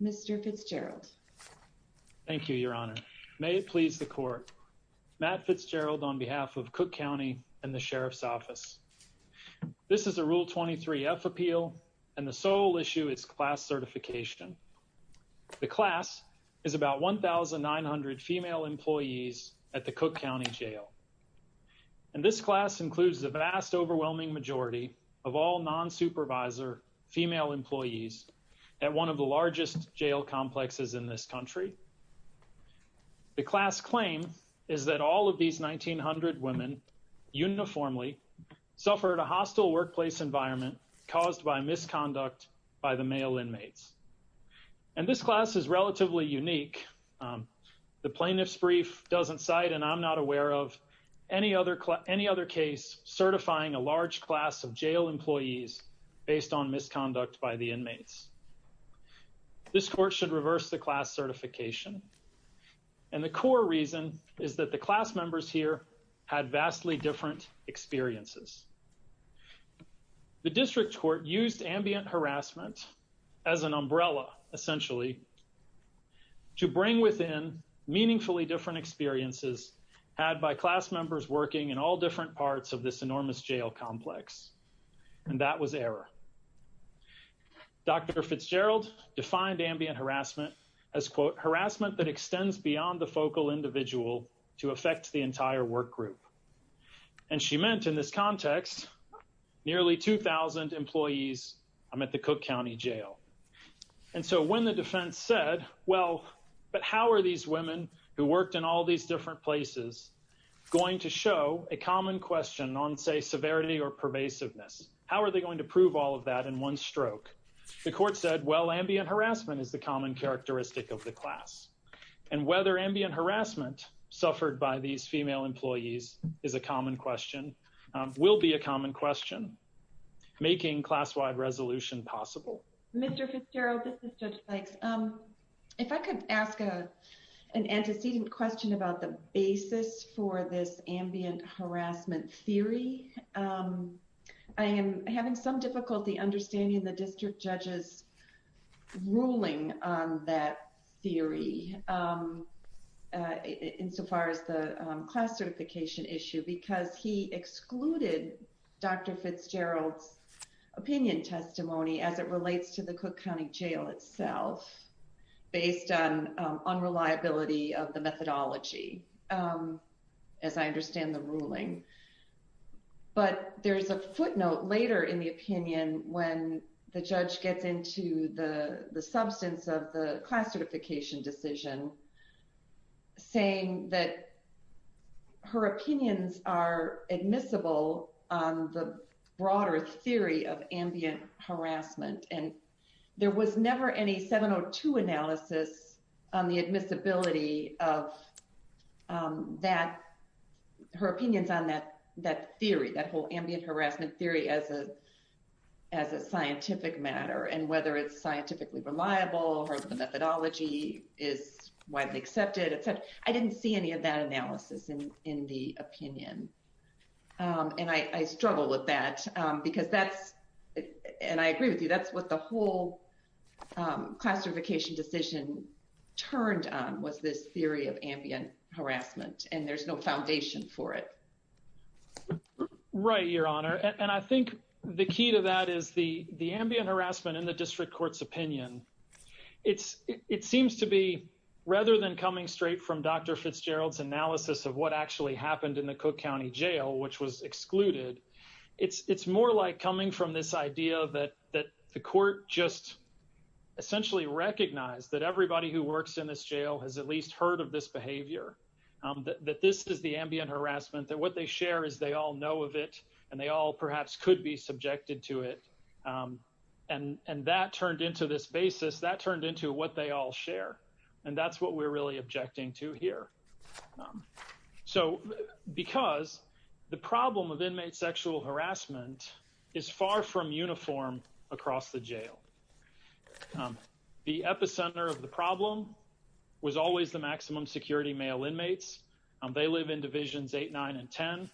Mr. Fitzgerald. Thank you, Your Honor. May it please the court. Matt Fitzgerald on behalf of Cook County and the Sheriff's Office. This is a Rule 23 F appeal, and the sole issue is class certification. The class is about 1,900 female employees at the Cook County Jail. And this class includes the vast overwhelming majority of all non-supervisor, non-clerk, and non-clerk employees. Female employees at one of the largest jail complexes in this country. The class claim is that all of these 1,900 women uniformly suffered a hostile workplace environment caused by misconduct by the male inmates. And this class is relatively unique. The plaintiff's brief doesn't cite, and I'm not aware of, any other case certifying a large class of jail employees based on misconduct by the inmates. This court should reverse the class certification. And the core reason is that the class members here had vastly different experiences. The district court used ambient harassment as an umbrella, essentially, to bring within meaningfully different experiences had by class members working in all different parts of this enormous jail complex. And that was error. Dr. Fitzgerald defined ambient harassment as, quote, harassment that extends beyond the focal individual to affect the entire work group. And she meant, in this context, nearly 2,000 employees at the Cook County Jail. And so when the defense said, well, but how are these women who worked in all these different places going to show a common question on, say, severity or pervasiveness? How are they going to prove all of that in one stroke? The court said, well, ambient harassment is the common characteristic of the class. And whether ambient harassment suffered by these female employees is a common question, will be a common question, making class-wide resolution possible. Mr. Fitzgerald, this is Judge Bikes. If I could ask an antecedent question about the basis for this ambient harassment theory. I am having some difficulty understanding the district judge's ruling on that theory, insofar as the class certification issue, because he excluded Dr. Fitzgerald's opinion testimony as it relates to the Cook County Jail itself, based on unreliability of the methodology, as I understand the ruling. But there's a footnote later in the opinion when the judge gets into the substance of the class certification decision, saying that her opinions are admissible on the broader theory of ambient harassment. And there was never any 702 analysis on the admissibility of that, her opinions on that theory, that whole ambient harassment theory as a scientific matter, and whether it's scientifically reliable or the methodology is widely accepted. I didn't see any of that analysis in the opinion. And I struggle with that, because that's, and I agree with you, that's what the whole classification decision turned on was this theory of ambient harassment, and there's no foundation for it. Right, Your Honor. And I think the key to that is the ambient harassment in the district court's opinion. It seems to be, rather than coming straight from Dr. Fitzgerald's analysis of what actually happened in the Cook County Jail, which was excluded, it's more like coming from this idea that the court just essentially recognized that everybody who works in this jail has at least heard of this behavior. That this is the ambient harassment, that what they share is they all know of it, and they all perhaps could be subjected to it. And that turned into this basis, that turned into what they all share. And that's what we're really objecting to here. So, because the problem of inmate sexual harassment is far from uniform across the jail. The epicenter of the problem was always the maximum security male inmates. They live in Divisions 8, 9, and 10,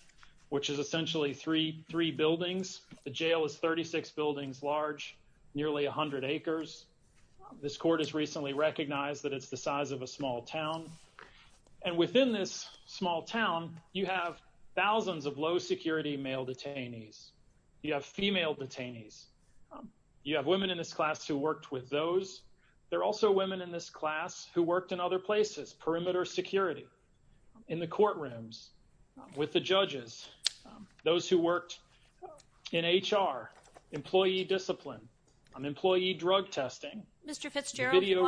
which is essentially three buildings. The jail is 36 buildings large, nearly 100 acres. This court has recently recognized that it's the size of a small town. And within this small town, you have thousands of low security male detainees. You have female detainees. You have women in this class who worked with those. There are also women in this class who worked in other places, perimeter security, in the courtrooms, with the judges, those who worked in HR, employee discipline, employee drug testing. Your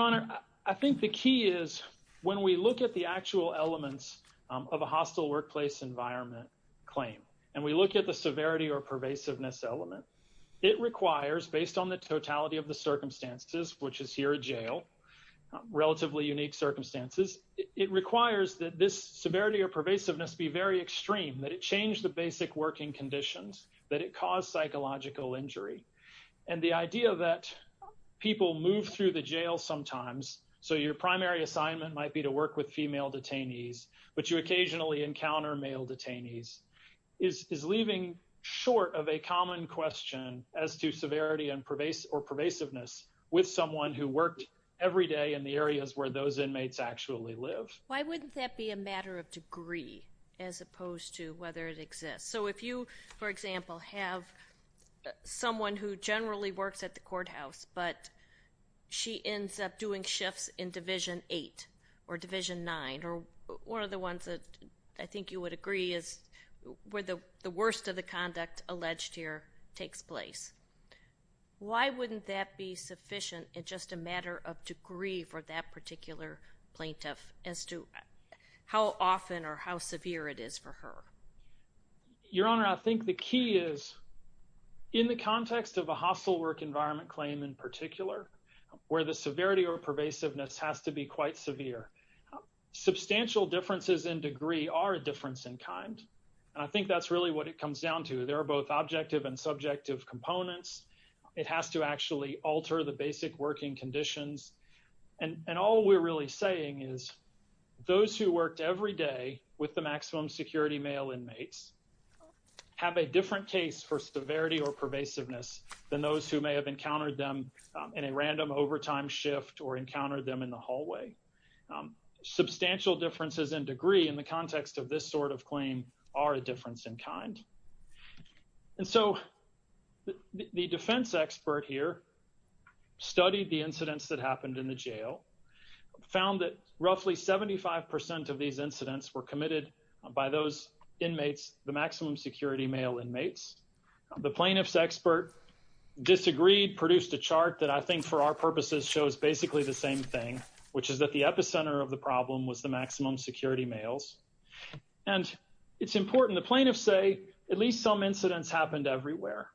Honor, I think the key is when we look at the actual elements of a hostile workplace environment claim, and we look at the severity or pervasiveness element. It requires, based on the totality of the circumstances, which is here at jail, relatively unique circumstances, it requires that this severity or pervasiveness be very extreme, that it change the basic working conditions, that it cause psychological injury. And the idea that people move through the jail sometimes, so your primary assignment might be to work with female detainees, but you occasionally encounter male detainees, is leaving short of a common question as to severity or pervasiveness with someone who worked every day in the areas where those inmates actually live. Why wouldn't that be a matter of degree as opposed to whether it exists? So if you, for example, have someone who generally works at the courthouse, but she ends up doing shifts in Division 8 or Division 9, or one of the ones that I think you would agree is where the worst of the conduct alleged here takes place. Why wouldn't that be sufficient and just a matter of degree for that particular plaintiff as to how often or how severe it is for her? Your Honor, I think the key is in the context of a hostile work environment claim in particular, where the severity or pervasiveness has to be quite severe. Substantial differences in degree are a difference in kind. And I think that's really what it comes down to. There are both objective and subjective components. It has to actually alter the basic working conditions. And all we're really saying is those who worked every day with the maximum security male inmates have a different case for severity or pervasiveness than those who may have encountered them in a random overtime shift or encountered them in the hallway. Substantial differences in degree in the context of this sort of claim are a difference in kind. And so the defense expert here studied the incidents that happened in the jail, found that roughly 75% of these incidents were committed by those inmates, the maximum security male inmates. The plaintiff's expert disagreed, produced a chart that I think for our purposes shows basically the same thing, which is that the epicenter of the problem was the maximum security males. And it's important. The plaintiffs say at least some incidents happened everywhere.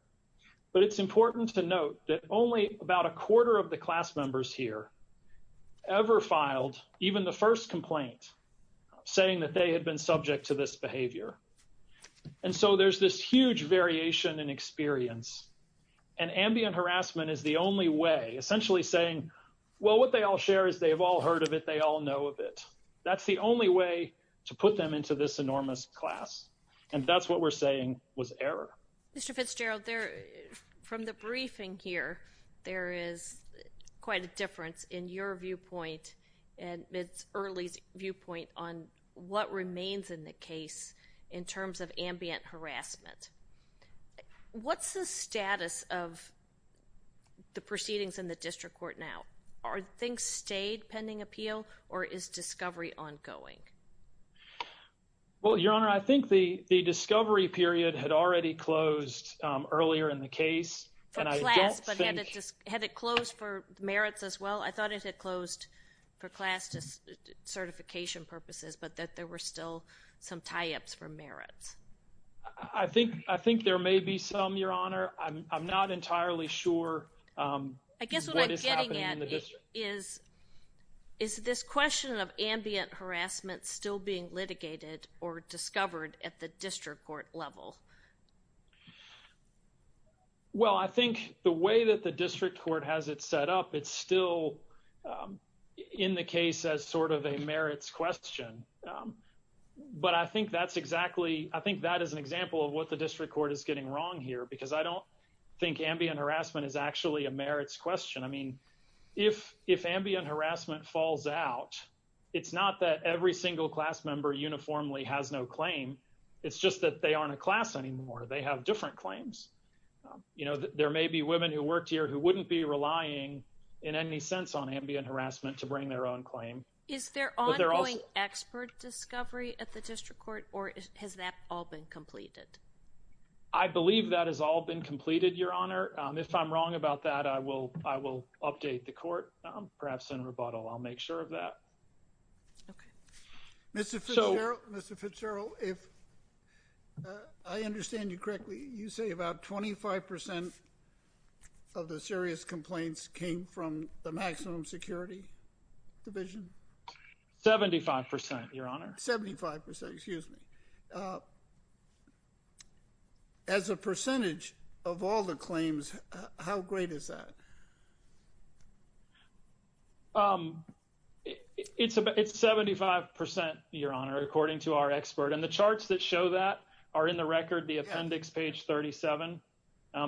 But it's important to note that only about a quarter of the class members here ever filed even the first complaint saying that they had been subject to this behavior. And so there's this huge variation in experience. And ambient harassment is the only way, essentially saying, well, what they all share is they've all heard of it. They all know of it. That's the only way to put them into this enormous class. And that's what we're saying was error. Mr. Fitzgerald, from the briefing here, there is quite a difference in your viewpoint and MIT's early viewpoint on what remains in the case in terms of ambient harassment. What's the status of the proceedings in the district court now? Are things stayed pending appeal, or is discovery ongoing? Well, Your Honor, I think the discovery period had already closed earlier in the case. For class, but had it closed for merits as well? I thought it had closed for class certification purposes, but that there were still some tie-ups for merits. I think there may be some, Your Honor. I'm not entirely sure. I guess what I'm getting at is, is this question of ambient harassment still being litigated or discovered at the district court level? Well, I think the way that the district court has it set up, it's still in the case as sort of a merits question. But I think that's exactly, I think that is an example of what the district court is getting wrong here, because I don't think ambient harassment is actually a merits question. I mean, if ambient harassment falls out, it's not that every single class member uniformly has no claim. It's just that they aren't a class anymore. They have different claims. You know, there may be women who worked here who wouldn't be relying in any sense on ambient harassment to bring their own claim. Is there ongoing expert discovery at the district court, or has that all been completed? I believe that has all been completed, Your Honor. If I'm wrong about that, I will update the court, perhaps in rebuttal. I'll make sure of that. Okay. 75%, Your Honor. 75%, excuse me. As a percentage of all the claims, how great is that? It's 75%, Your Honor, according to our expert. And the charts that show that are in the record, the appendix, page 37.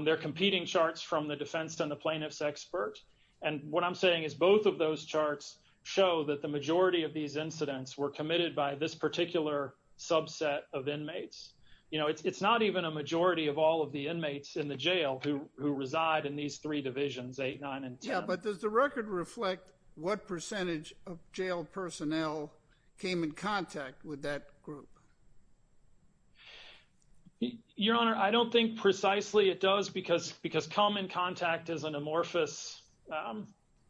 They're competing charts from the defense and the plaintiff's expert. And what I'm saying is both of those charts show that the majority of these incidents were committed by this particular subset of inmates. You know, it's not even a majority of all of the inmates in the jail who reside in these three divisions, 8, 9, and 10. Yeah, but does the record reflect what percentage of jail personnel came in contact with that group? Your Honor, I don't think precisely it does, because common contact is an amorphous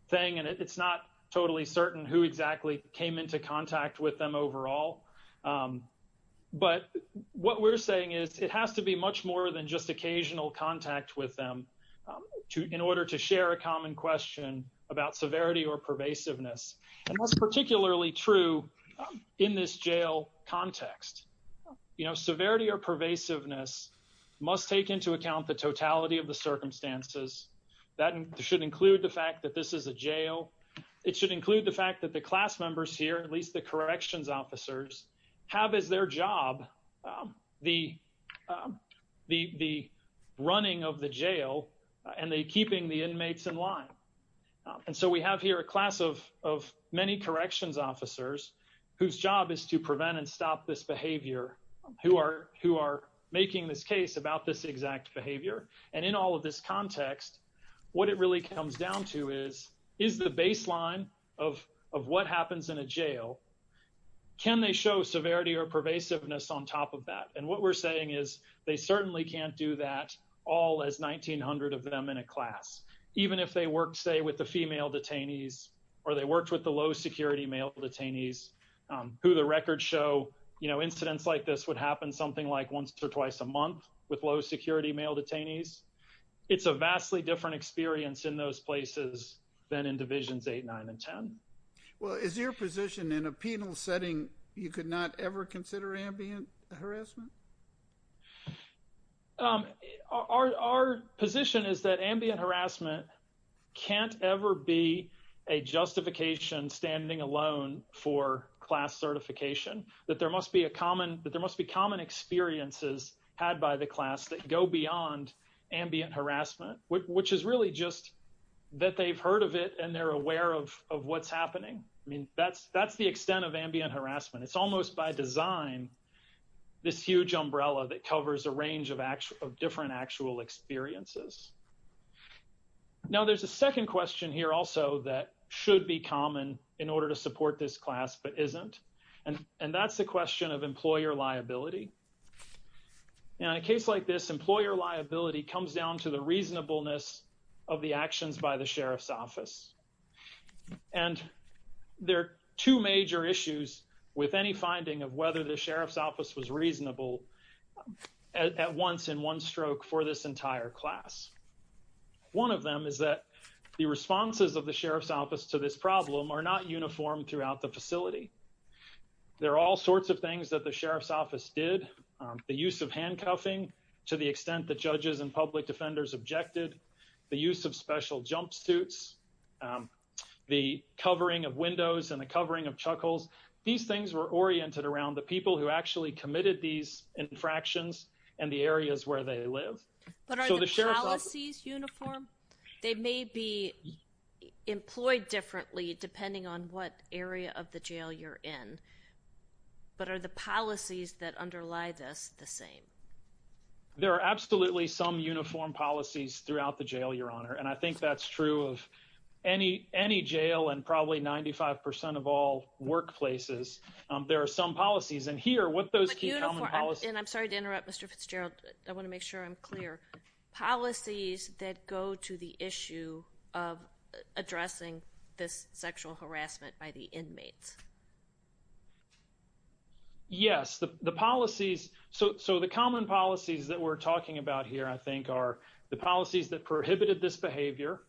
thing, and it's not totally certain who exactly came into contact with them overall. But what we're saying is it has to be much more than just occasional contact with them in order to share a common question about severity or pervasiveness. And that's particularly true in this jail context. You know, severity or pervasiveness must take into account the totality of the circumstances. That should include the fact that this is a jail. It should include the fact that the class members here, at least the corrections officers, have as their job the running of the jail and keeping the inmates in line. And so we have here a class of many corrections officers whose job is to prevent and stop this behavior, who are making this case about this exact behavior. And in all of this context, what it really comes down to is, is the baseline of what happens in a jail, can they show severity or pervasiveness on top of that? And what we're saying is they certainly can't do that all as 1,900 of them in a class. Even if they worked, say, with the female detainees or they worked with the low-security male detainees, who the records show, you know, incidents like this would happen something like once or twice a month with low-security male detainees. It's a vastly different experience in those places than in Divisions 8, 9, and 10. Well, is your position in a penal setting you could not ever consider ambient harassment? Our position is that ambient harassment can't ever be a justification standing alone for class certification. That there must be common experiences had by the class that go beyond ambient harassment, which is really just that they've heard of it and they're aware of what's happening. I mean, that's the extent of ambient harassment. It's almost by design this huge umbrella that covers a range of different actual experiences. Now, there's a second question here also that should be common in order to support this class but isn't. And that's the question of employer liability. In a case like this, employer liability comes down to the reasonableness of the actions by the Sheriff's Office. And there are two major issues with any finding of whether the Sheriff's Office was reasonable at once in one stroke for this entire class. One of them is that the responses of the Sheriff's Office to this problem are not uniform throughout the facility. There are all sorts of things that the Sheriff's Office did. The use of handcuffing to the extent that judges and public defenders objected. The use of special jumpsuits. The covering of windows and the covering of chuckles. These things were oriented around the people who actually committed these infractions and the areas where they live. But are the policies uniform? They may be employed differently depending on what area of the jail you're in. But are the policies that underlie this the same? There are absolutely some uniform policies throughout the jail, Your Honor. And I think that's true of any jail and probably 95% of all workplaces. There are some policies. And here, what those key common policies— But uniform—and I'm sorry to interrupt, Mr. Fitzgerald. I want to make sure I'm clear. Are there policies that go to the issue of addressing this sexual harassment by the inmates? Yes. The policies—so the common policies that we're talking about here, I think, are the policies that prohibited this behavior.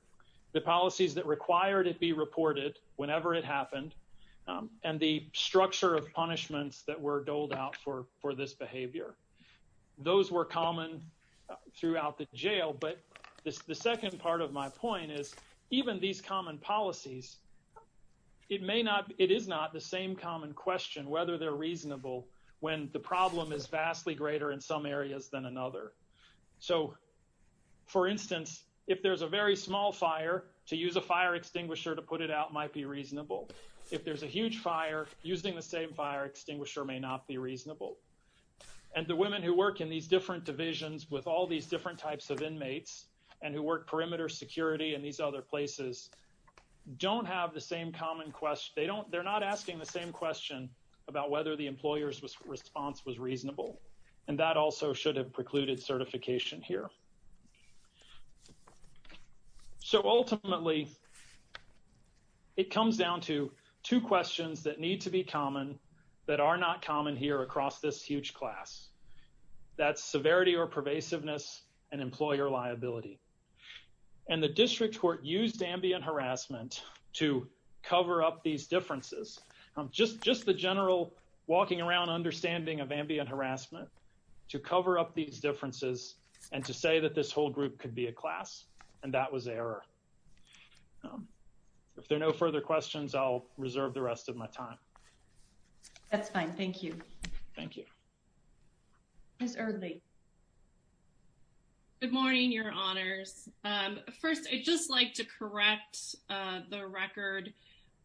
The policies that required it be reported whenever it happened. And the structure of punishments that were doled out for this behavior. Those were common throughout the jail. But the second part of my point is even these common policies, it may not—it is not the same common question whether they're reasonable when the problem is vastly greater in some areas than another. So, for instance, if there's a very small fire, to use a fire extinguisher to put it out might be reasonable. If there's a huge fire, using the same fire extinguisher may not be reasonable. And the women who work in these different divisions with all these different types of inmates and who work perimeter security and these other places don't have the same common question. They're not asking the same question about whether the employer's response was reasonable. And that also should have precluded certification here. So, ultimately, it comes down to two questions that need to be common that are not common here across this huge class. That's severity or pervasiveness and employer liability. And the district court used ambient harassment to cover up these differences. Just the general walking around understanding of ambient harassment to cover up these differences and to say that this whole group could be a class, and that was error. If there are no further questions, I'll reserve the rest of my time. That's fine. Thank you. Thank you. Ms. Earley. Good morning, Your Honors. First, I'd just like to correct the record.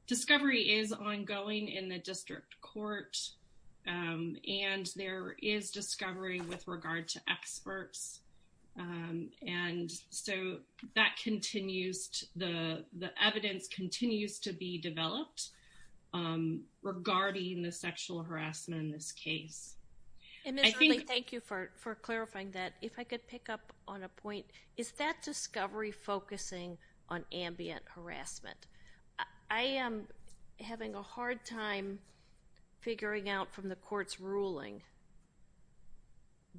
Discovery is ongoing in the district court, and there is discovery with regard to experts. And so that continues. The evidence continues to be developed regarding the sexual harassment in this case. And, Ms. Earley, thank you for clarifying that. If I could pick up on a point, is that discovery focusing on ambient harassment? I am having a hard time figuring out from the court's ruling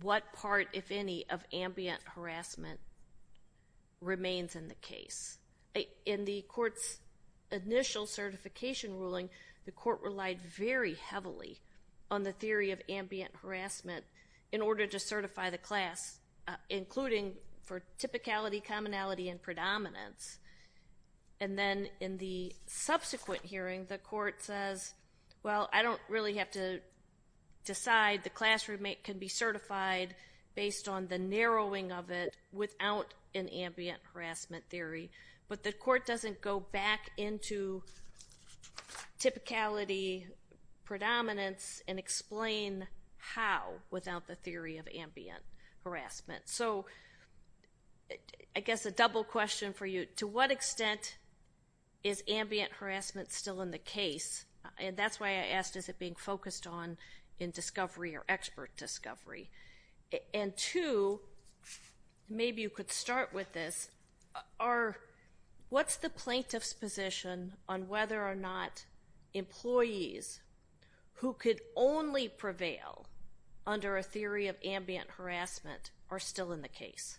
what part, if any, of ambient harassment remains in the case. In the court's initial certification ruling, the court relied very heavily on the theory of ambient harassment in order to certify the class, including for typicality, commonality, and predominance. And then in the subsequent hearing, the court says, well, I don't really have to decide. The class can be certified based on the narrowing of it without an ambient harassment theory. But the court doesn't go back into typicality, predominance, and explain how without the theory of ambient harassment. So I guess a double question for you. To what extent is ambient harassment still in the case? And that's why I asked, is it being focused on in discovery or expert discovery? And two, maybe you could start with this, what's the plaintiff's position on whether or not employees who could only prevail under a theory of ambient harassment are still in the case?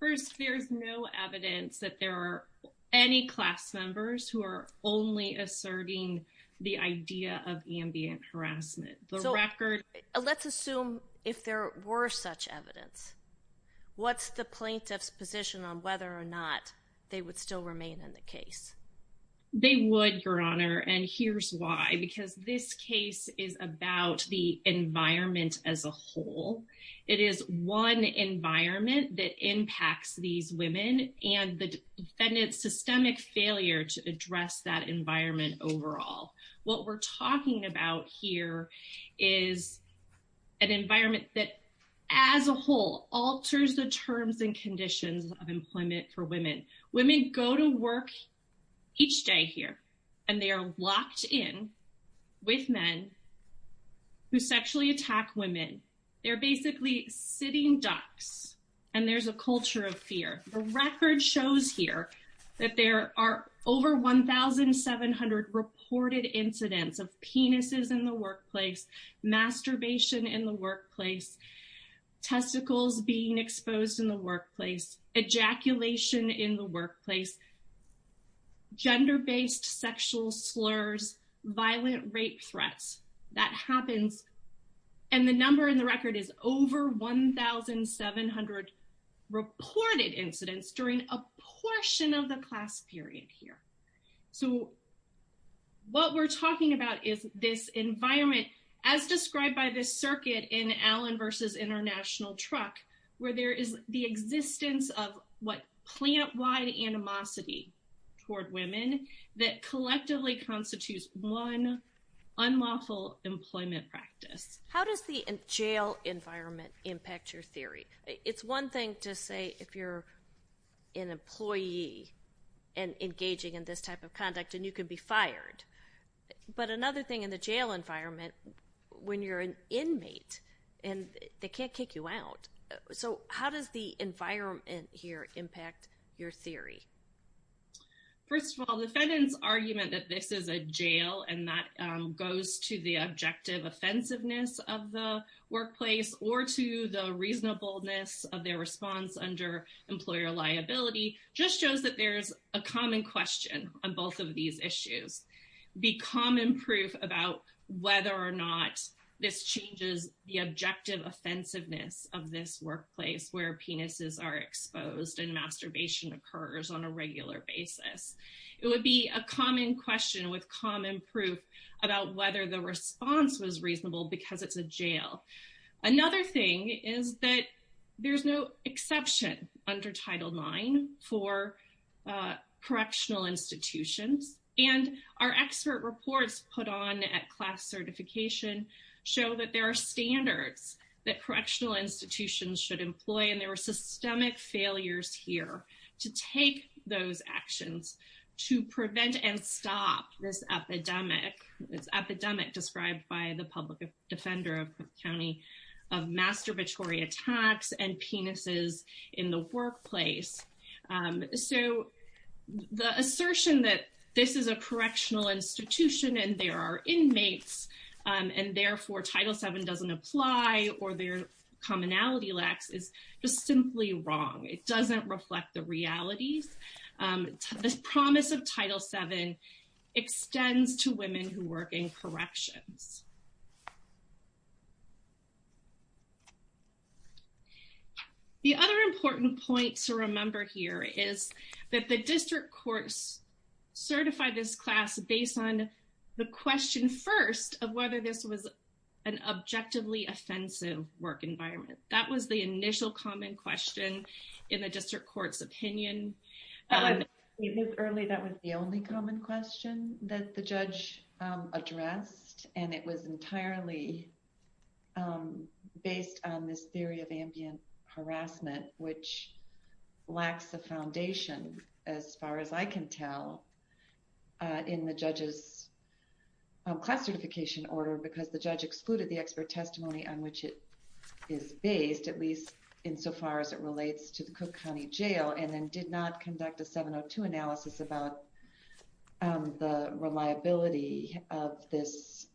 First, there's no evidence that there are any class members who are only asserting the idea of ambient harassment. Let's assume if there were such evidence, what's the plaintiff's position on whether or not they would still remain in the case? They would, Your Honor, and here's why. Because this case is about the environment as a whole. It is one environment that impacts these women and the defendant's systemic failure to address that environment overall. What we're talking about here is an environment that, as a whole, alters the terms and conditions of employment for women. Women go to work each day here, and they are locked in with men who sexually attack women. They're basically sitting ducks, and there's a culture of fear. The record shows here that there are over 1,700 reported incidents of penises in the workplace, masturbation in the workplace, testicles being exposed in the workplace, ejaculation in the workplace, gender-based sexual slurs, violent rape threats. That happens, and the number in the record is over 1,700 reported incidents during a portion of the class period here. So what we're talking about is this environment, as described by this circuit in Allen v. International Truck, where there is the existence of what plant-wide animosity toward women that collectively constitutes one unlawful employment practice. How does the jail environment impact your theory? It's one thing to say if you're an employee and engaging in this type of conduct, and you can be fired. But another thing in the jail environment, when you're an inmate, and they can't kick you out. So how does the environment here impact your theory? First of all, the defendant's argument that this is a jail and that goes to the objective offensiveness of the workplace or to the reasonableness of their response under employer liability just shows that there's a common question on both of these issues. Be common proof about whether or not this changes the objective offensiveness of this workplace where penises are exposed and masturbation occurs on a regular basis. It would be a common question with common proof about whether the response was reasonable because it's a jail. Another thing is that there's no exception under Title IX for correctional institutions. And our expert reports put on at class certification show that there are standards that correctional institutions should employ. And there were systemic failures here to take those actions to prevent and stop this epidemic. It's epidemic described by the public defender of County of masturbatory attacks and penises in the workplace. So the assertion that this is a correctional institution and there are inmates and therefore Title VII doesn't apply or their commonality lacks is just simply wrong. It doesn't reflect the realities. This promise of Title VII extends to women who work in corrections. The other important point to remember here is that the district courts certified this class based on the question first of whether this was an objectively offensive work environment. That was the initial common question in the district court's opinion. It was early. That was the only common question that the judge addressed. And it was entirely based on this theory of ambient harassment, which lacks the foundation, as far as I can tell, in the judge's class certification order because the judge excluded the expert testimony on which it is based, at least insofar as it relates to the Cook County jail and then did not conduct a 702 analysis about the reliability of this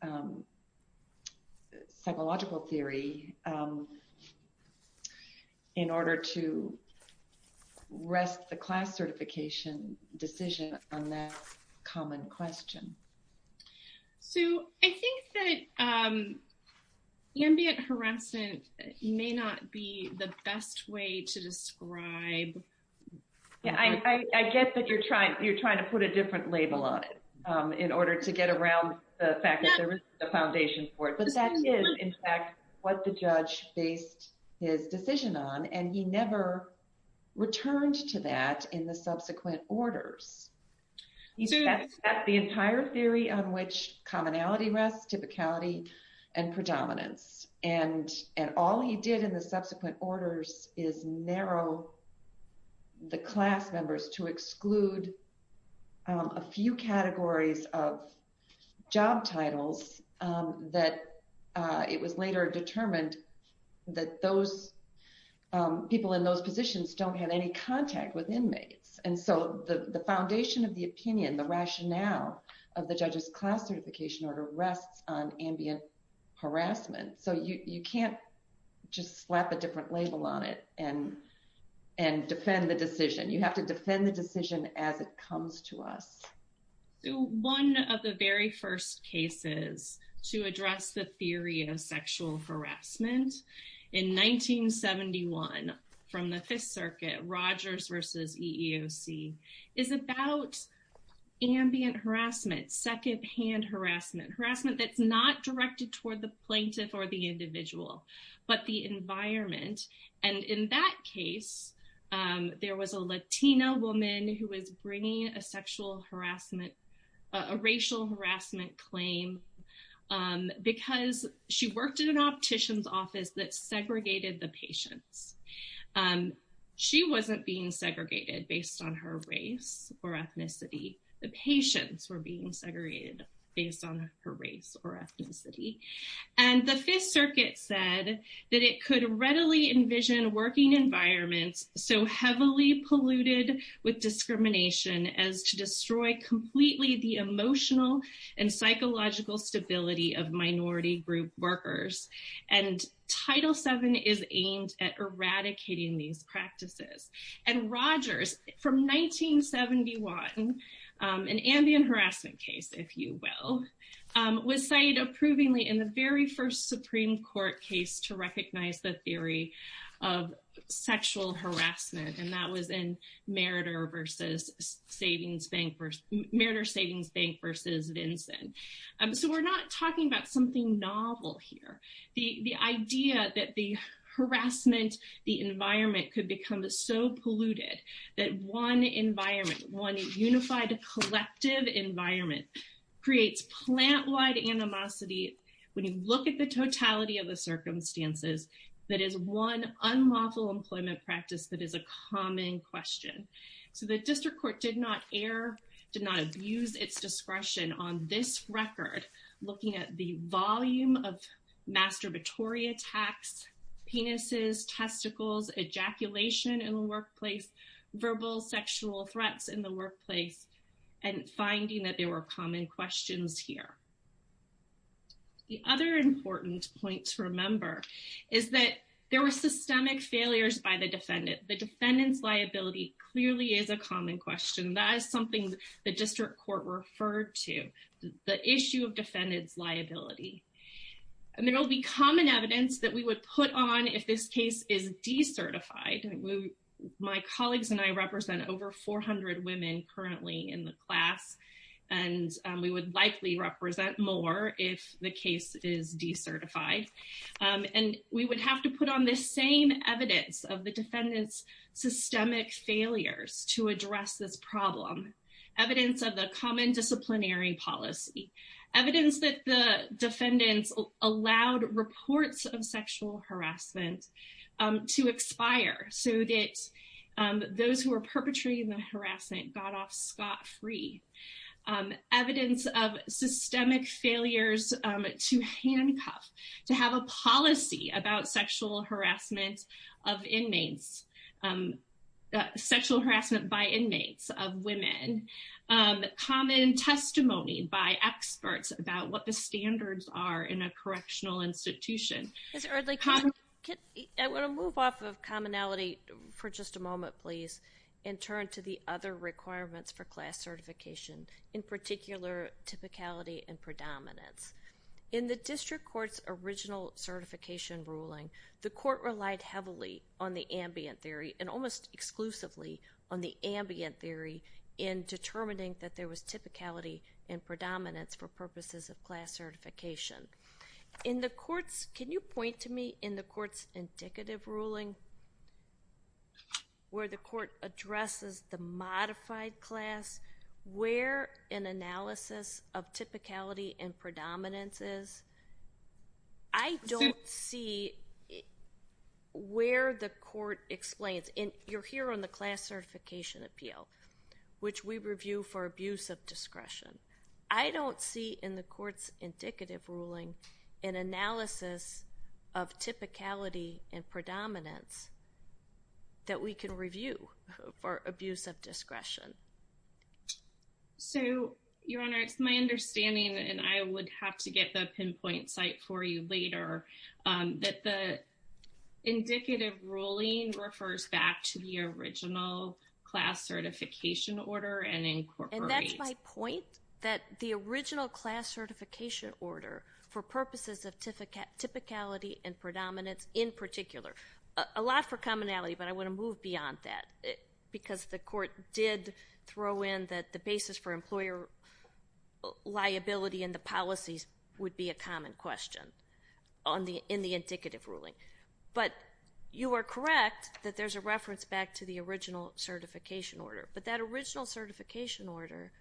psychological theory in order to rest the class certification decision on that common question. So I think that ambient harassment may not be the best way to describe. Yeah, I get that you're trying to put a different label on it in order to get around the fact that there is a foundation for it. But that is, in fact, what the judge based his decision on. And he never returned to that in the subsequent orders. He set the entire theory on which commonality rests, typicality, and predominance. And all he did in the subsequent orders is narrow the class members to exclude a few categories of job titles that it was later determined that those people in those positions don't have any contact with inmates. And so the foundation of the opinion, the rationale of the judge's class certification order rests on ambient harassment. So you can't just slap a different label on it and defend the decision. You have to defend the decision as it comes to us. One of the very first cases to address the theory of sexual harassment in 1971 from the Fifth Circuit, Rogers v. EEOC, is about ambient harassment, secondhand harassment, harassment that's not directed toward the plaintiff or the individual, but the environment. And in that case, there was a Latina woman who was bringing a sexual harassment, a racial harassment claim because she worked in an optician's office that segregated the patients. She wasn't being segregated based on her race or ethnicity. The patients were being segregated based on her race or ethnicity. And the Fifth Circuit said that it could readily envision working environments so heavily polluted with discrimination as to destroy completely the emotional and psychological stability of minority group workers. And Title VII is aimed at eradicating these practices. And Rogers, from 1971, an ambient harassment case, if you will, was cited approvingly in the very first Supreme Court case to recognize the theory of sexual harassment. And that was in Meriter Savings Bank v. Vinson. So we're not talking about something novel here. The idea that the harassment, the environment could become so polluted that one environment, one unified collective environment creates plant-wide animosity. When you look at the totality of the circumstances, that is one unlawful employment practice that is a common question. So the district court did not err, did not abuse its discretion on this record, looking at the volume of masturbatory attacks, penises, testicles, ejaculation in the workplace, verbal sexual threats in the workplace, and finding that there were common questions here. The other important point to remember is that there were systemic failures by the defendant. The defendant's liability clearly is a common question. That is something the district court referred to, the issue of defendant's liability. And there will be common evidence that we would put on if this case is decertified. My colleagues and I represent over 400 women currently in the class, and we would likely represent more if the case is decertified. And we would have to put on the same evidence of the defendant's systemic failures to address this problem. Evidence of the common disciplinary policy, evidence that the defendants allowed reports of sexual harassment to expire so that those who were perpetrating the harassment got off scot-free. Evidence of systemic failures to handcuff, to have a policy about sexual harassment of inmates, sexual harassment by inmates of women. Common testimony by experts about what the standards are in a correctional institution. I want to move off of commonality for just a moment, please, and turn to the other requirements for class certification, in particular, typicality and predominance. In the district court's original certification ruling, the court relied heavily on the ambient theory, and almost exclusively on the ambient theory, in determining that there was typicality and predominance for purposes of class certification. Can you point to me, in the court's indicative ruling, where the court addresses the modified class, where an analysis of typicality and predominance is? I don't see where the court explains. And you're here on the class certification appeal, which we review for abuse of discretion. I don't see in the court's indicative ruling an analysis of typicality and predominance that we can review for abuse of discretion. So, Your Honor, it's my understanding, and I would have to get the pinpoint site for you later, that the indicative ruling refers back to the original class certification order and incorporates... that the original class certification order, for purposes of typicality and predominance, in particular. A lot for commonality, but I want to move beyond that, because the court did throw in that the basis for employer liability and the policies would be a common question in the indicative ruling. But you are correct that there's a reference back to the original certification order. But that original certification order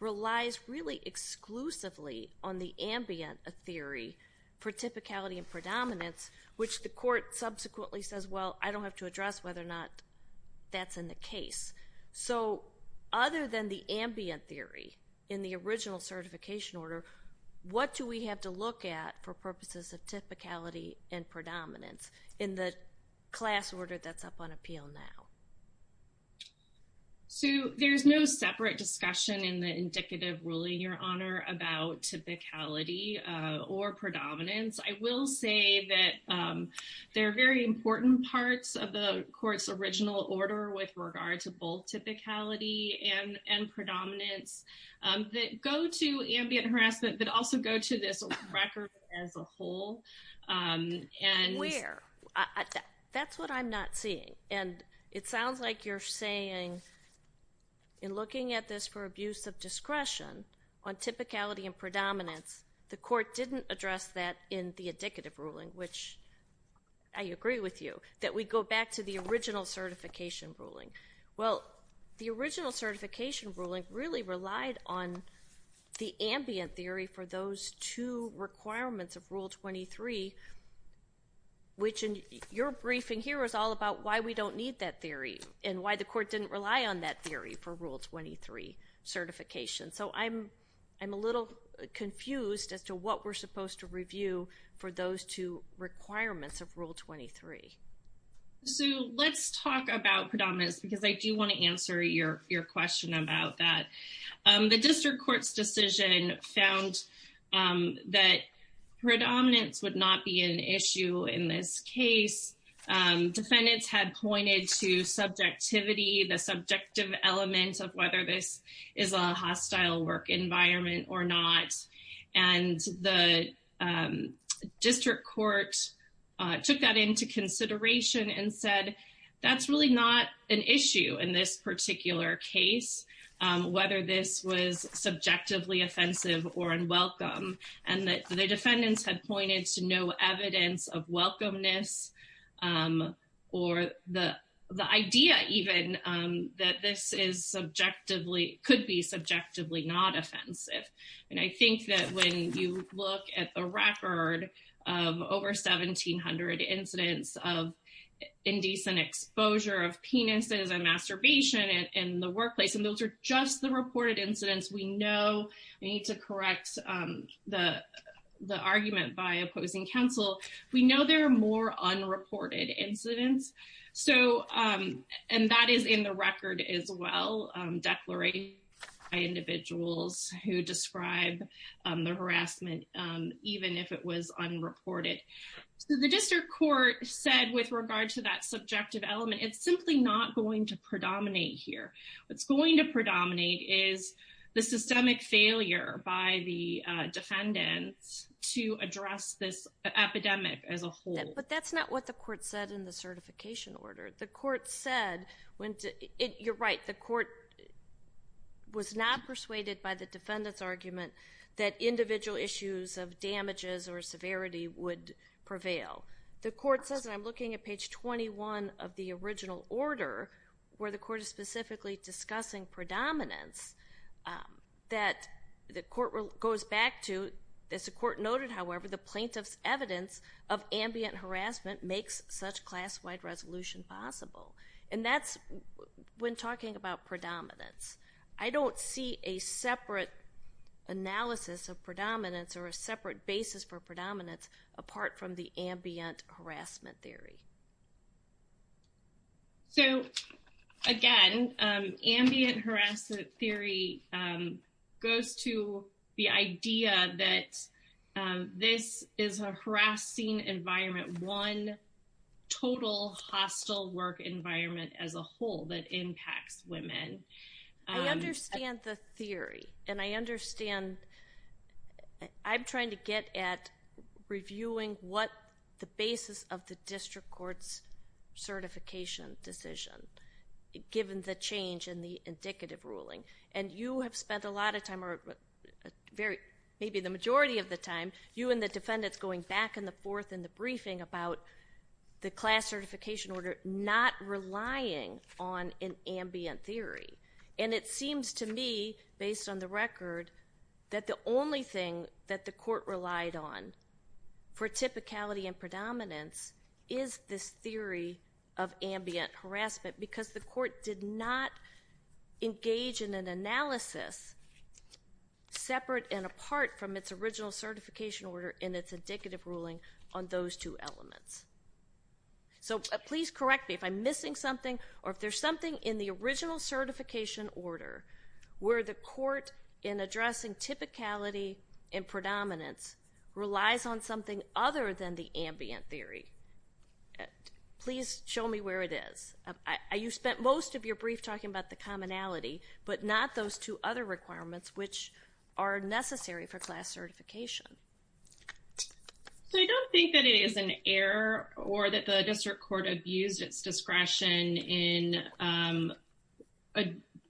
relies really exclusively on the ambient theory for typicality and predominance, which the court subsequently says, well, I don't have to address whether or not that's in the case. So, other than the ambient theory in the original certification order, what do we have to look at for purposes of typicality and predominance in the class order that's up on appeal now? So, there's no separate discussion in the indicative ruling, Your Honor, about typicality or predominance. I will say that there are very important parts of the court's original order with regard to both typicality and predominance that go to ambient harassment, but also go to this record as a whole. Where? That's what I'm not seeing, and it sounds like you're saying in looking at this for abuse of discretion on typicality and predominance, the court didn't address that in the indicative ruling, which I agree with you, that we go back to the original certification ruling. Well, the original certification ruling really relied on the ambient theory for those two requirements of Rule 23, which in your briefing here is all about why we don't need that theory and why the court didn't rely on that theory for Rule 23 certification. So, I'm a little confused as to what we're supposed to review for those two requirements of Rule 23. So, let's talk about predominance because I do want to answer your question about that. The district court's decision found that predominance would not be an issue in this case. Defendants had pointed to subjectivity, the subjective element of whether this is a hostile work environment or not, and the district court took that into consideration and said that's really not an issue in this particular case, whether this was subjectively offensive or unwelcome. And the defendants had pointed to no evidence of welcomeness or the idea even that this could be subjectively not offensive. And I think that when you look at the record of over 1,700 incidents of indecent exposure of penises and masturbation in the workplace, and those are just the reported incidents we know we need to correct the argument by opposing counsel, we know there are more unreported incidents. So, and that is in the record as well, declarations by individuals who describe the harassment even if it was unreported. So, the district court said with regard to that subjective element, it's simply not going to predominate here. What's going to predominate is the systemic failure by the defendants to address this epidemic as a whole. But that's not what the court said in the certification order. The court said, you're right, the court was not persuaded by the defendants' argument that individual issues of damages or severity would prevail. The court says, and I'm looking at page 21 of the original order, where the court is specifically discussing predominance, that the court goes back to, as the court noted, however, the plaintiff's evidence of ambient harassment makes such class-wide resolution possible. And that's when talking about predominance. I don't see a separate analysis of predominance or a separate basis for predominance apart from the ambient harassment theory. So, again, ambient harassment theory goes to the idea that this is a harassing environment, one total hostile work environment as a whole that impacts women. I understand the theory, and I understand. I'm trying to get at reviewing what the basis of the district court's certification decision, given the change in the indicative ruling. And you have spent a lot of time, or maybe the majority of the time, you and the defendants going back and forth in the briefing about the class certification order not relying on an ambient theory. And it seems to me, based on the record, that the only thing that the court relied on for typicality and predominance is this theory of ambient harassment because the court did not engage in an analysis separate and apart from its original certification order and its indicative ruling on those two elements. So please correct me if I'm missing something or if there's something in the original certification order where the court, in addressing typicality and predominance, relies on something other than the ambient theory. Please show me where it is. You spent most of your brief talking about the commonality, but not those two other requirements which are necessary for class certification. So I don't think that it is an error or that the district court abused its discretion in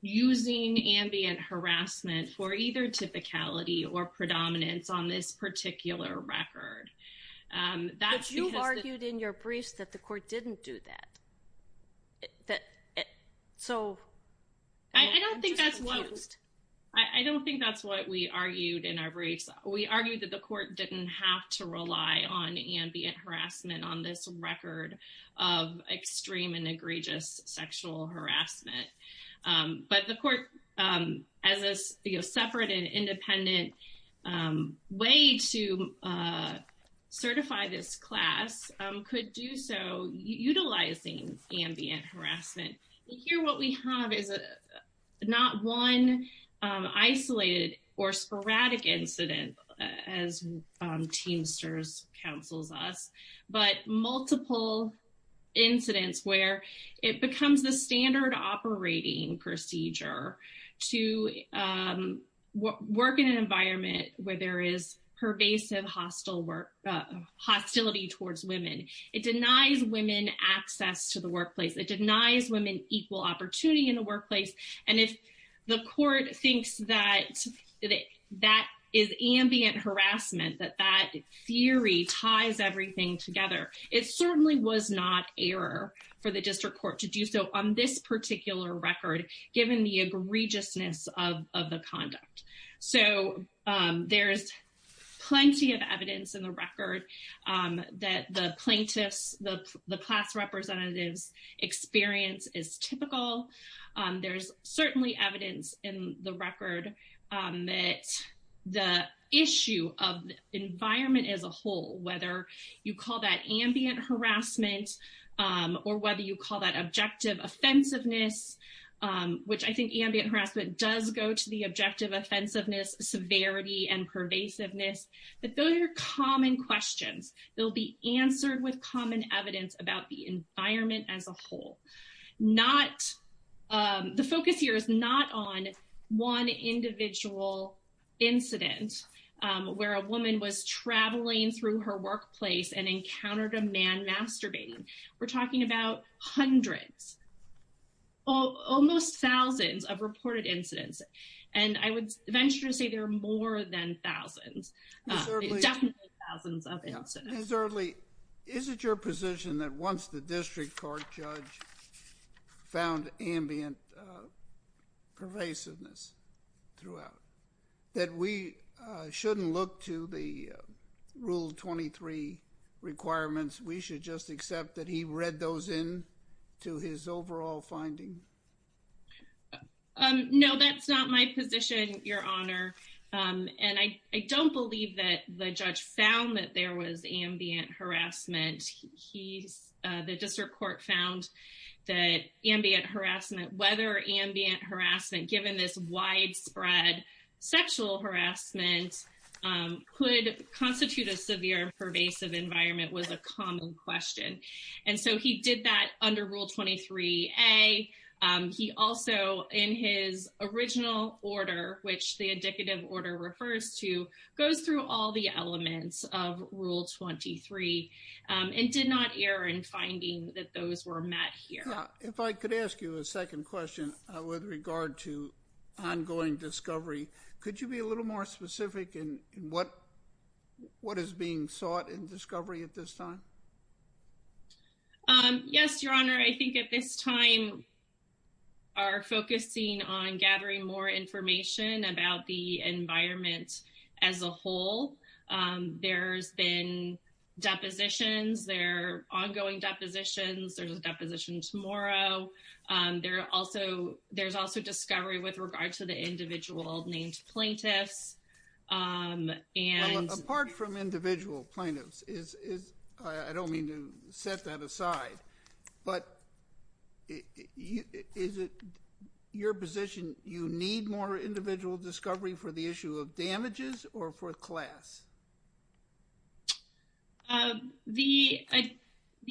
using ambient harassment for either typicality or predominance on this particular record. But you argued in your briefs that the court didn't do that. So I'm just confused. I don't think that's what we argued in our briefs. We argued that the court didn't have to rely on ambient harassment on this record of extreme and egregious sexual harassment. But the court, as a separate and independent way to certify this class, could do so utilizing ambient harassment. Here what we have is not one isolated or sporadic incident, as Teamsters counsels us, but multiple incidents where it becomes the standard operating procedure to work in an environment where there is pervasive hostility towards women. It denies women access to the workplace. It denies women equal opportunity in the workplace. And if the court thinks that that is ambient harassment, that that theory ties everything together, it certainly was not error for the district court to do so on this particular record, given the egregiousness of the conduct. So there's plenty of evidence in the record that the plaintiffs, the class representatives' experience is typical. There's certainly evidence in the record that the issue of the environment as a whole, whether you call that ambient harassment or whether you call that objective offensiveness, which I think ambient harassment does go to the objective offensiveness, severity, and pervasiveness, that those are common questions that will be answered with common evidence about the environment as a whole. The focus here is not on one individual incident where a woman was traveling through her workplace and encountered a man masturbating. We're talking about hundreds, almost thousands of reported incidents. And I would venture to say there are more than thousands, definitely thousands of incidents. Ms. Earley, is it your position that once the district court judge found ambient pervasiveness throughout, that we shouldn't look to the Rule 23 requirements? We should just accept that he read those in to his overall finding? No, that's not my position, Your Honor. And I don't believe that the judge found that there was ambient harassment. The district court found that ambient harassment, whether ambient harassment, given this widespread sexual harassment, could constitute a severe pervasive environment was a common question. And so he did that under Rule 23a. He also, in his original order, which the indicative order refers to, goes through all the elements of Rule 23 and did not err in finding that those were met here. If I could ask you a second question with regard to ongoing discovery, could you be a little more specific in what is being sought in discovery at this time? Yes, Your Honor. I think at this time we are focusing on gathering more information about the environment as a whole. There's been depositions. There are ongoing depositions. There's a deposition tomorrow. There's also discovery with regard to the individual named plaintiffs. Apart from individual plaintiffs, I don't mean to set that aside, but is it your position you need more individual discovery for the issue of damages or for class? The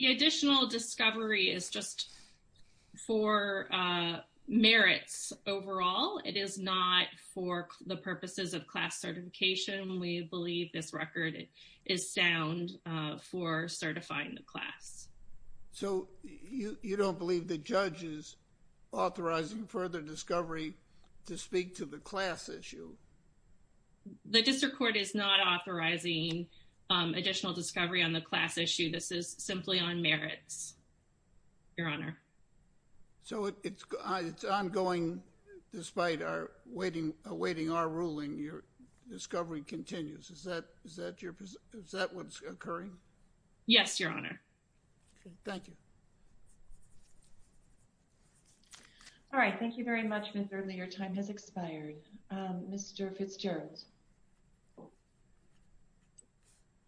additional discovery is just for merits overall. It is not for the purposes of class certification. We believe this record is sound for certifying the class. So you don't believe the judge is authorizing further discovery to speak to the class issue? The district court is not authorizing additional discovery on the class issue. This is simply on merits, Your Honor. So it's ongoing despite awaiting our ruling. Your discovery continues. Is that what's occurring? Yes, Your Honor. Thank you. All right. Thank you very much, Ms. Earley. Your time has expired. Mr. Fitzgerald.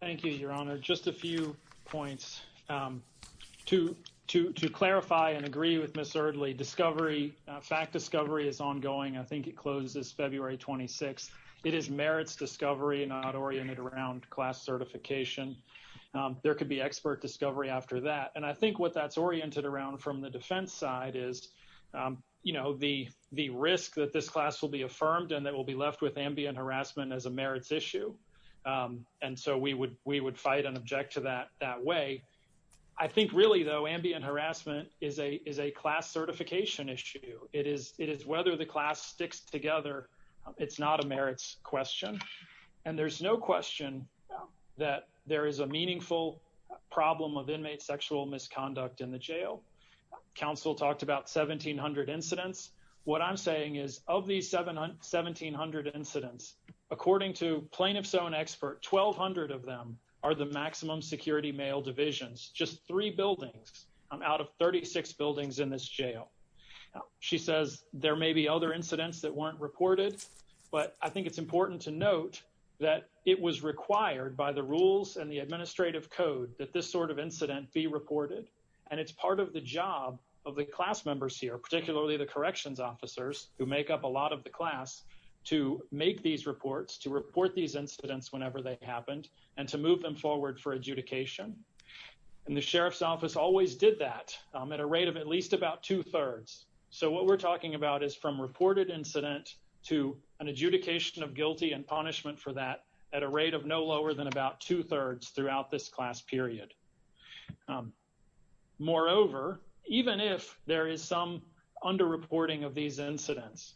Thank you, Your Honor. Just a few points. To clarify and agree with Ms. Earley, discovery, fact discovery is ongoing. I think it closes February 26th. It is merits discovery, not oriented around class certification. There could be expert discovery after that. And I think what that's oriented around from the defense side is, you know, the risk that this class will be affirmed and that will be left with ambient harassment as a merits issue. And so we would fight and object to that that way. I think really, though, ambient harassment is a class certification issue. It is whether the class sticks together. It's not a merits question. And there's no question that there is a meaningful problem of inmate sexual misconduct in the jail. Counsel talked about 1,700 incidents. What I'm saying is of these 1,700 incidents, according to plaintiff's own expert, 1,200 of them are the maximum security male divisions, just three buildings. I'm out of 36 buildings in this jail. She says there may be other incidents that weren't reported. But I think it's important to note that it was required by the rules and the administrative code that this sort of incident be reported. And it's part of the job of the class members here, particularly the corrections officers who make up a lot of the class, to make these reports, to report these incidents whenever they happened and to move them forward for adjudication. And the sheriff's office always did that at a rate of at least about two thirds. So what we're talking about is from reported incident to an adjudication of guilty and punishment for that at a rate of no lower than about two thirds throughout this class period. Moreover, even if there is some underreporting of these incidents,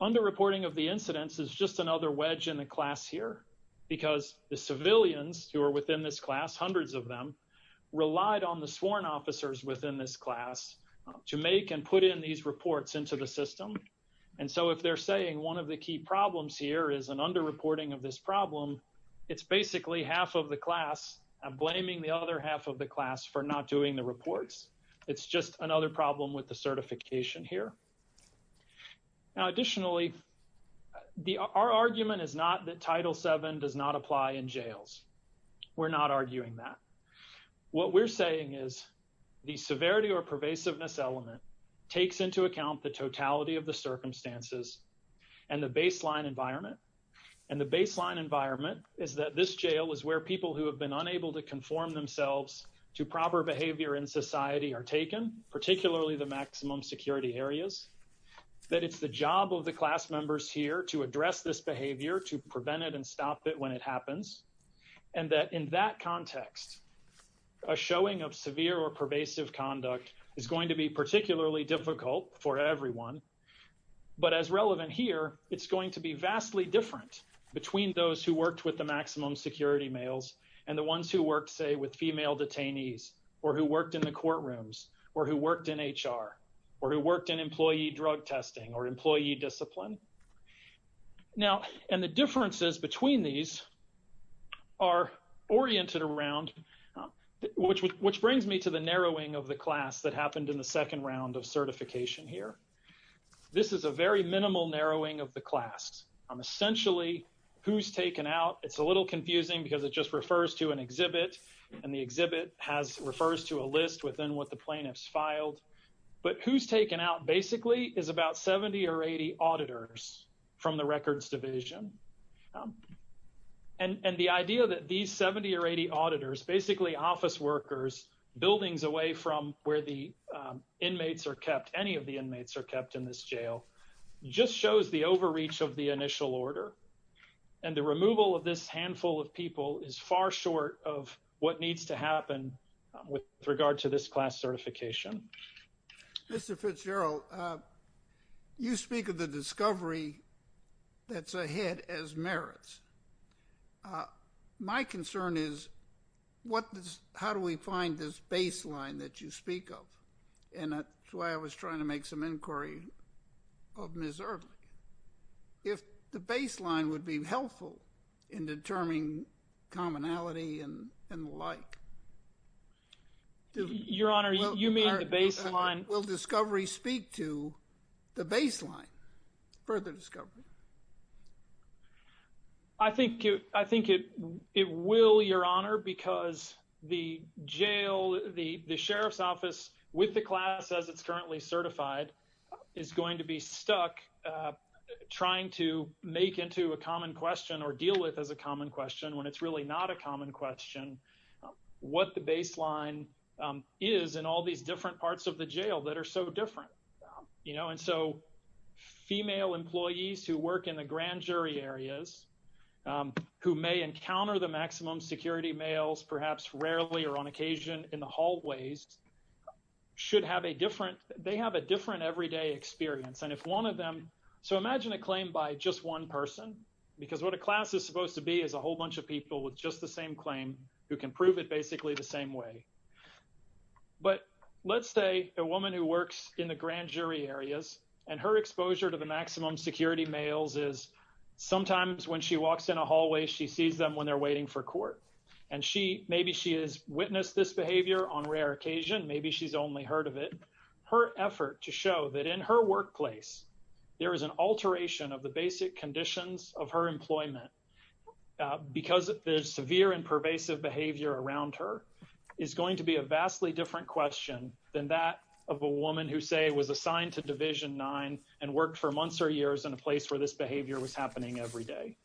underreporting of the incidents is just another wedge in the class here because the civilians who are within this class, hundreds of them, relied on the sworn officers within this class to make and put in these reports into the system. And so if they're saying one of the key problems here is an underreporting of this problem, it's basically half of the class blaming the other half of the class for not doing the reports. It's just another problem with the certification here. Now, additionally, our argument is not that Title VII does not apply in jails. We're not arguing that. What we're saying is the severity or pervasiveness element takes into account the totality of the circumstances and the baseline environment. And the baseline environment is that this jail is where people who have been unable to conform themselves to proper behavior in society are taken, particularly the maximum security areas. That it's the job of the class members here to address this behavior, to prevent it and stop it when it happens, and that in that context, a showing of severe or pervasive conduct is going to be particularly difficult for everyone. But as relevant here, it's going to be vastly different between those who worked with the maximum security males and the ones who worked, say, with female detainees or who worked in the courtrooms or who worked in HR or who worked in employee drug testing or employee discipline. Now, and the differences between these are oriented around, which brings me to the narrowing of the class that happened in the second round of certification here. This is a very minimal narrowing of the class. Essentially, who's taken out, it's a little confusing because it just refers to an exhibit and the exhibit has refers to a list within what the plaintiffs filed. But who's taken out basically is about 70 or 80 auditors from the records division. And the idea that these 70 or 80 auditors, basically office workers, buildings away from where the inmates are kept, any of the inmates are kept in this jail, just shows the overreach of the initial order. And the removal of this handful of people is far short of what needs to happen with regard to this class certification. Mr. Fitzgerald, you speak of the discovery that's ahead as merits. My concern is how do we find this baseline that you speak of? And that's why I was trying to make some inquiry of Ms. Earley. If the baseline would be helpful in determining commonality and the like. Your Honor, you mean the baseline? Will discovery speak to the baseline for the discovery? I think it will, Your Honor, because the jail, the sheriff's office with the class as it's currently certified is going to be stuck trying to make into a common question or deal with as a common question when it's really not a common question. What the baseline is in all these different parts of the jail that are so different. You know, and so female employees who work in the grand jury areas who may encounter the maximum security males, perhaps rarely or on occasion in the hallways, should have a different, they have a different everyday experience. And if one of them, so imagine a claim by just one person, because what a class is supposed to be is a whole bunch of people with just the same claim who can prove it basically the same way. But let's say a woman who works in the grand jury areas and her exposure to the maximum security males is sometimes when she walks in a hallway, she sees them when they're waiting for court. And she, maybe she has witnessed this behavior on rare occasion, maybe she's only heard of it. Her effort to show that in her workplace, there is an alteration of the basic conditions of her employment because of the severe and pervasive behavior around her is going to be a vastly different question than that of a woman who say was assigned to division nine and worked for months or years in a place where this behavior was happening every day.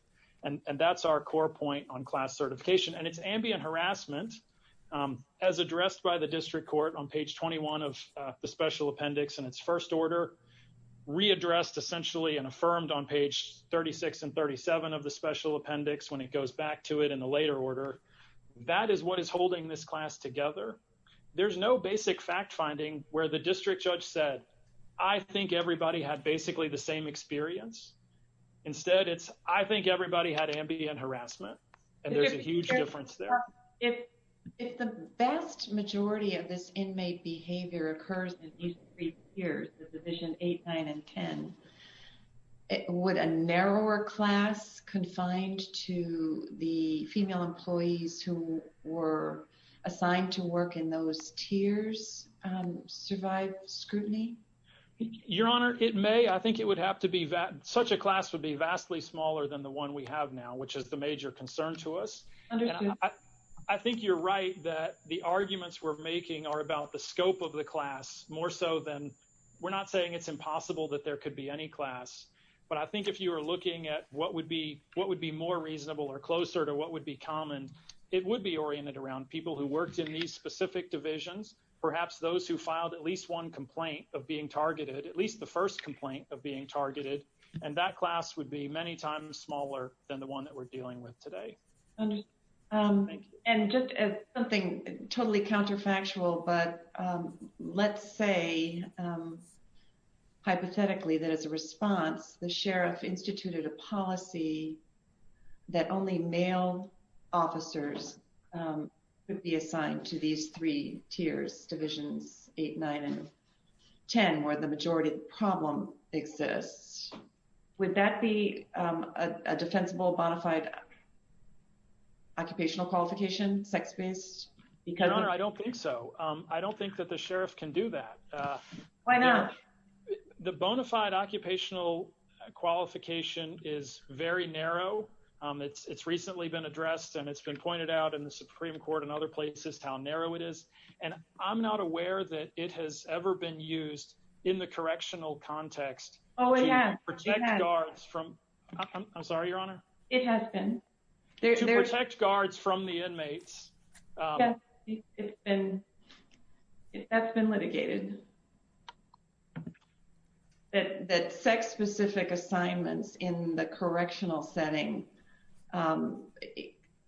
And that's our core point on class certification and it's ambient harassment as addressed by the district court on page 21 of the special appendix and its first order readdressed essentially and affirmed on page 36 and 37 of the special appendix when it goes back to it in the later order. That is what is holding this class together. There's no basic fact finding where the district judge said, I think everybody had basically the same experience. Instead it's, I think everybody had ambient harassment and there's a huge difference there. If the vast majority of this inmate behavior occurs in these three years, the division eight, nine, and 10, would a narrower class confined to the female employees who were assigned to work in those tiers survive scrutiny? Your honor, it may. I think it would have to be that such a class would be vastly smaller than the one we have now, which is the major concern to us. I think you're right that the arguments we're making are about the scope of the class more so than we're not saying it's impossible that there could be any class. But I think if you were looking at what would be more reasonable or closer to what would be common, it would be oriented around people who worked in these specific divisions. Perhaps those who filed at least one complaint of being targeted, at least the first complaint of being targeted. And that class would be many times smaller than the one that we're dealing with today. And just something totally counterfactual, but let's say hypothetically that as a response, the sheriff instituted a policy that only male officers would be assigned to these three tiers, divisions eight, nine, and 10, where the majority problem exists. Would that be a defensible, bona fide occupational qualification, sex-based? Your honor, I don't think so. I don't think that the sheriff can do that. Why not? The bona fide occupational qualification is very narrow. It's recently been addressed and it's been pointed out in the Supreme Court and other places how narrow it is. And I'm not aware that it has ever been used in the correctional context. Oh, it has. To protect guards from... I'm sorry, your honor. It has been. To protect guards from the inmates. Yes, it's been, that's been litigated. That sex-specific assignments in the correctional setting,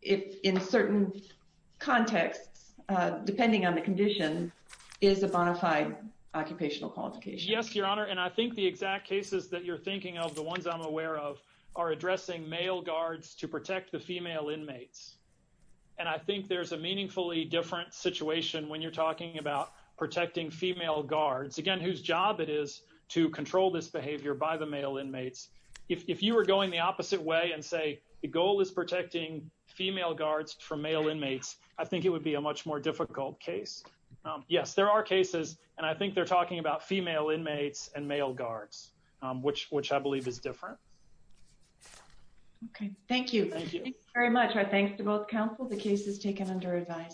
if in certain contexts, depending on the condition, is a bona fide occupational qualification. Yes, your honor. And I think the exact cases that you're thinking of, the ones I'm aware of, are addressing male guards to protect the female inmates. And I think there's a meaningfully different situation when you're talking about protecting female guards, again, whose job it is to control this behavior by the male inmates. If you were going the opposite way and say the goal is protecting female guards from male inmates, I think it would be a much more difficult case. Yes, there are cases, and I think they're talking about female inmates and male guards, which I believe is different. Okay, thank you. Thank you. Thank you very much. Our thanks to both counsel. The case is taken under advice.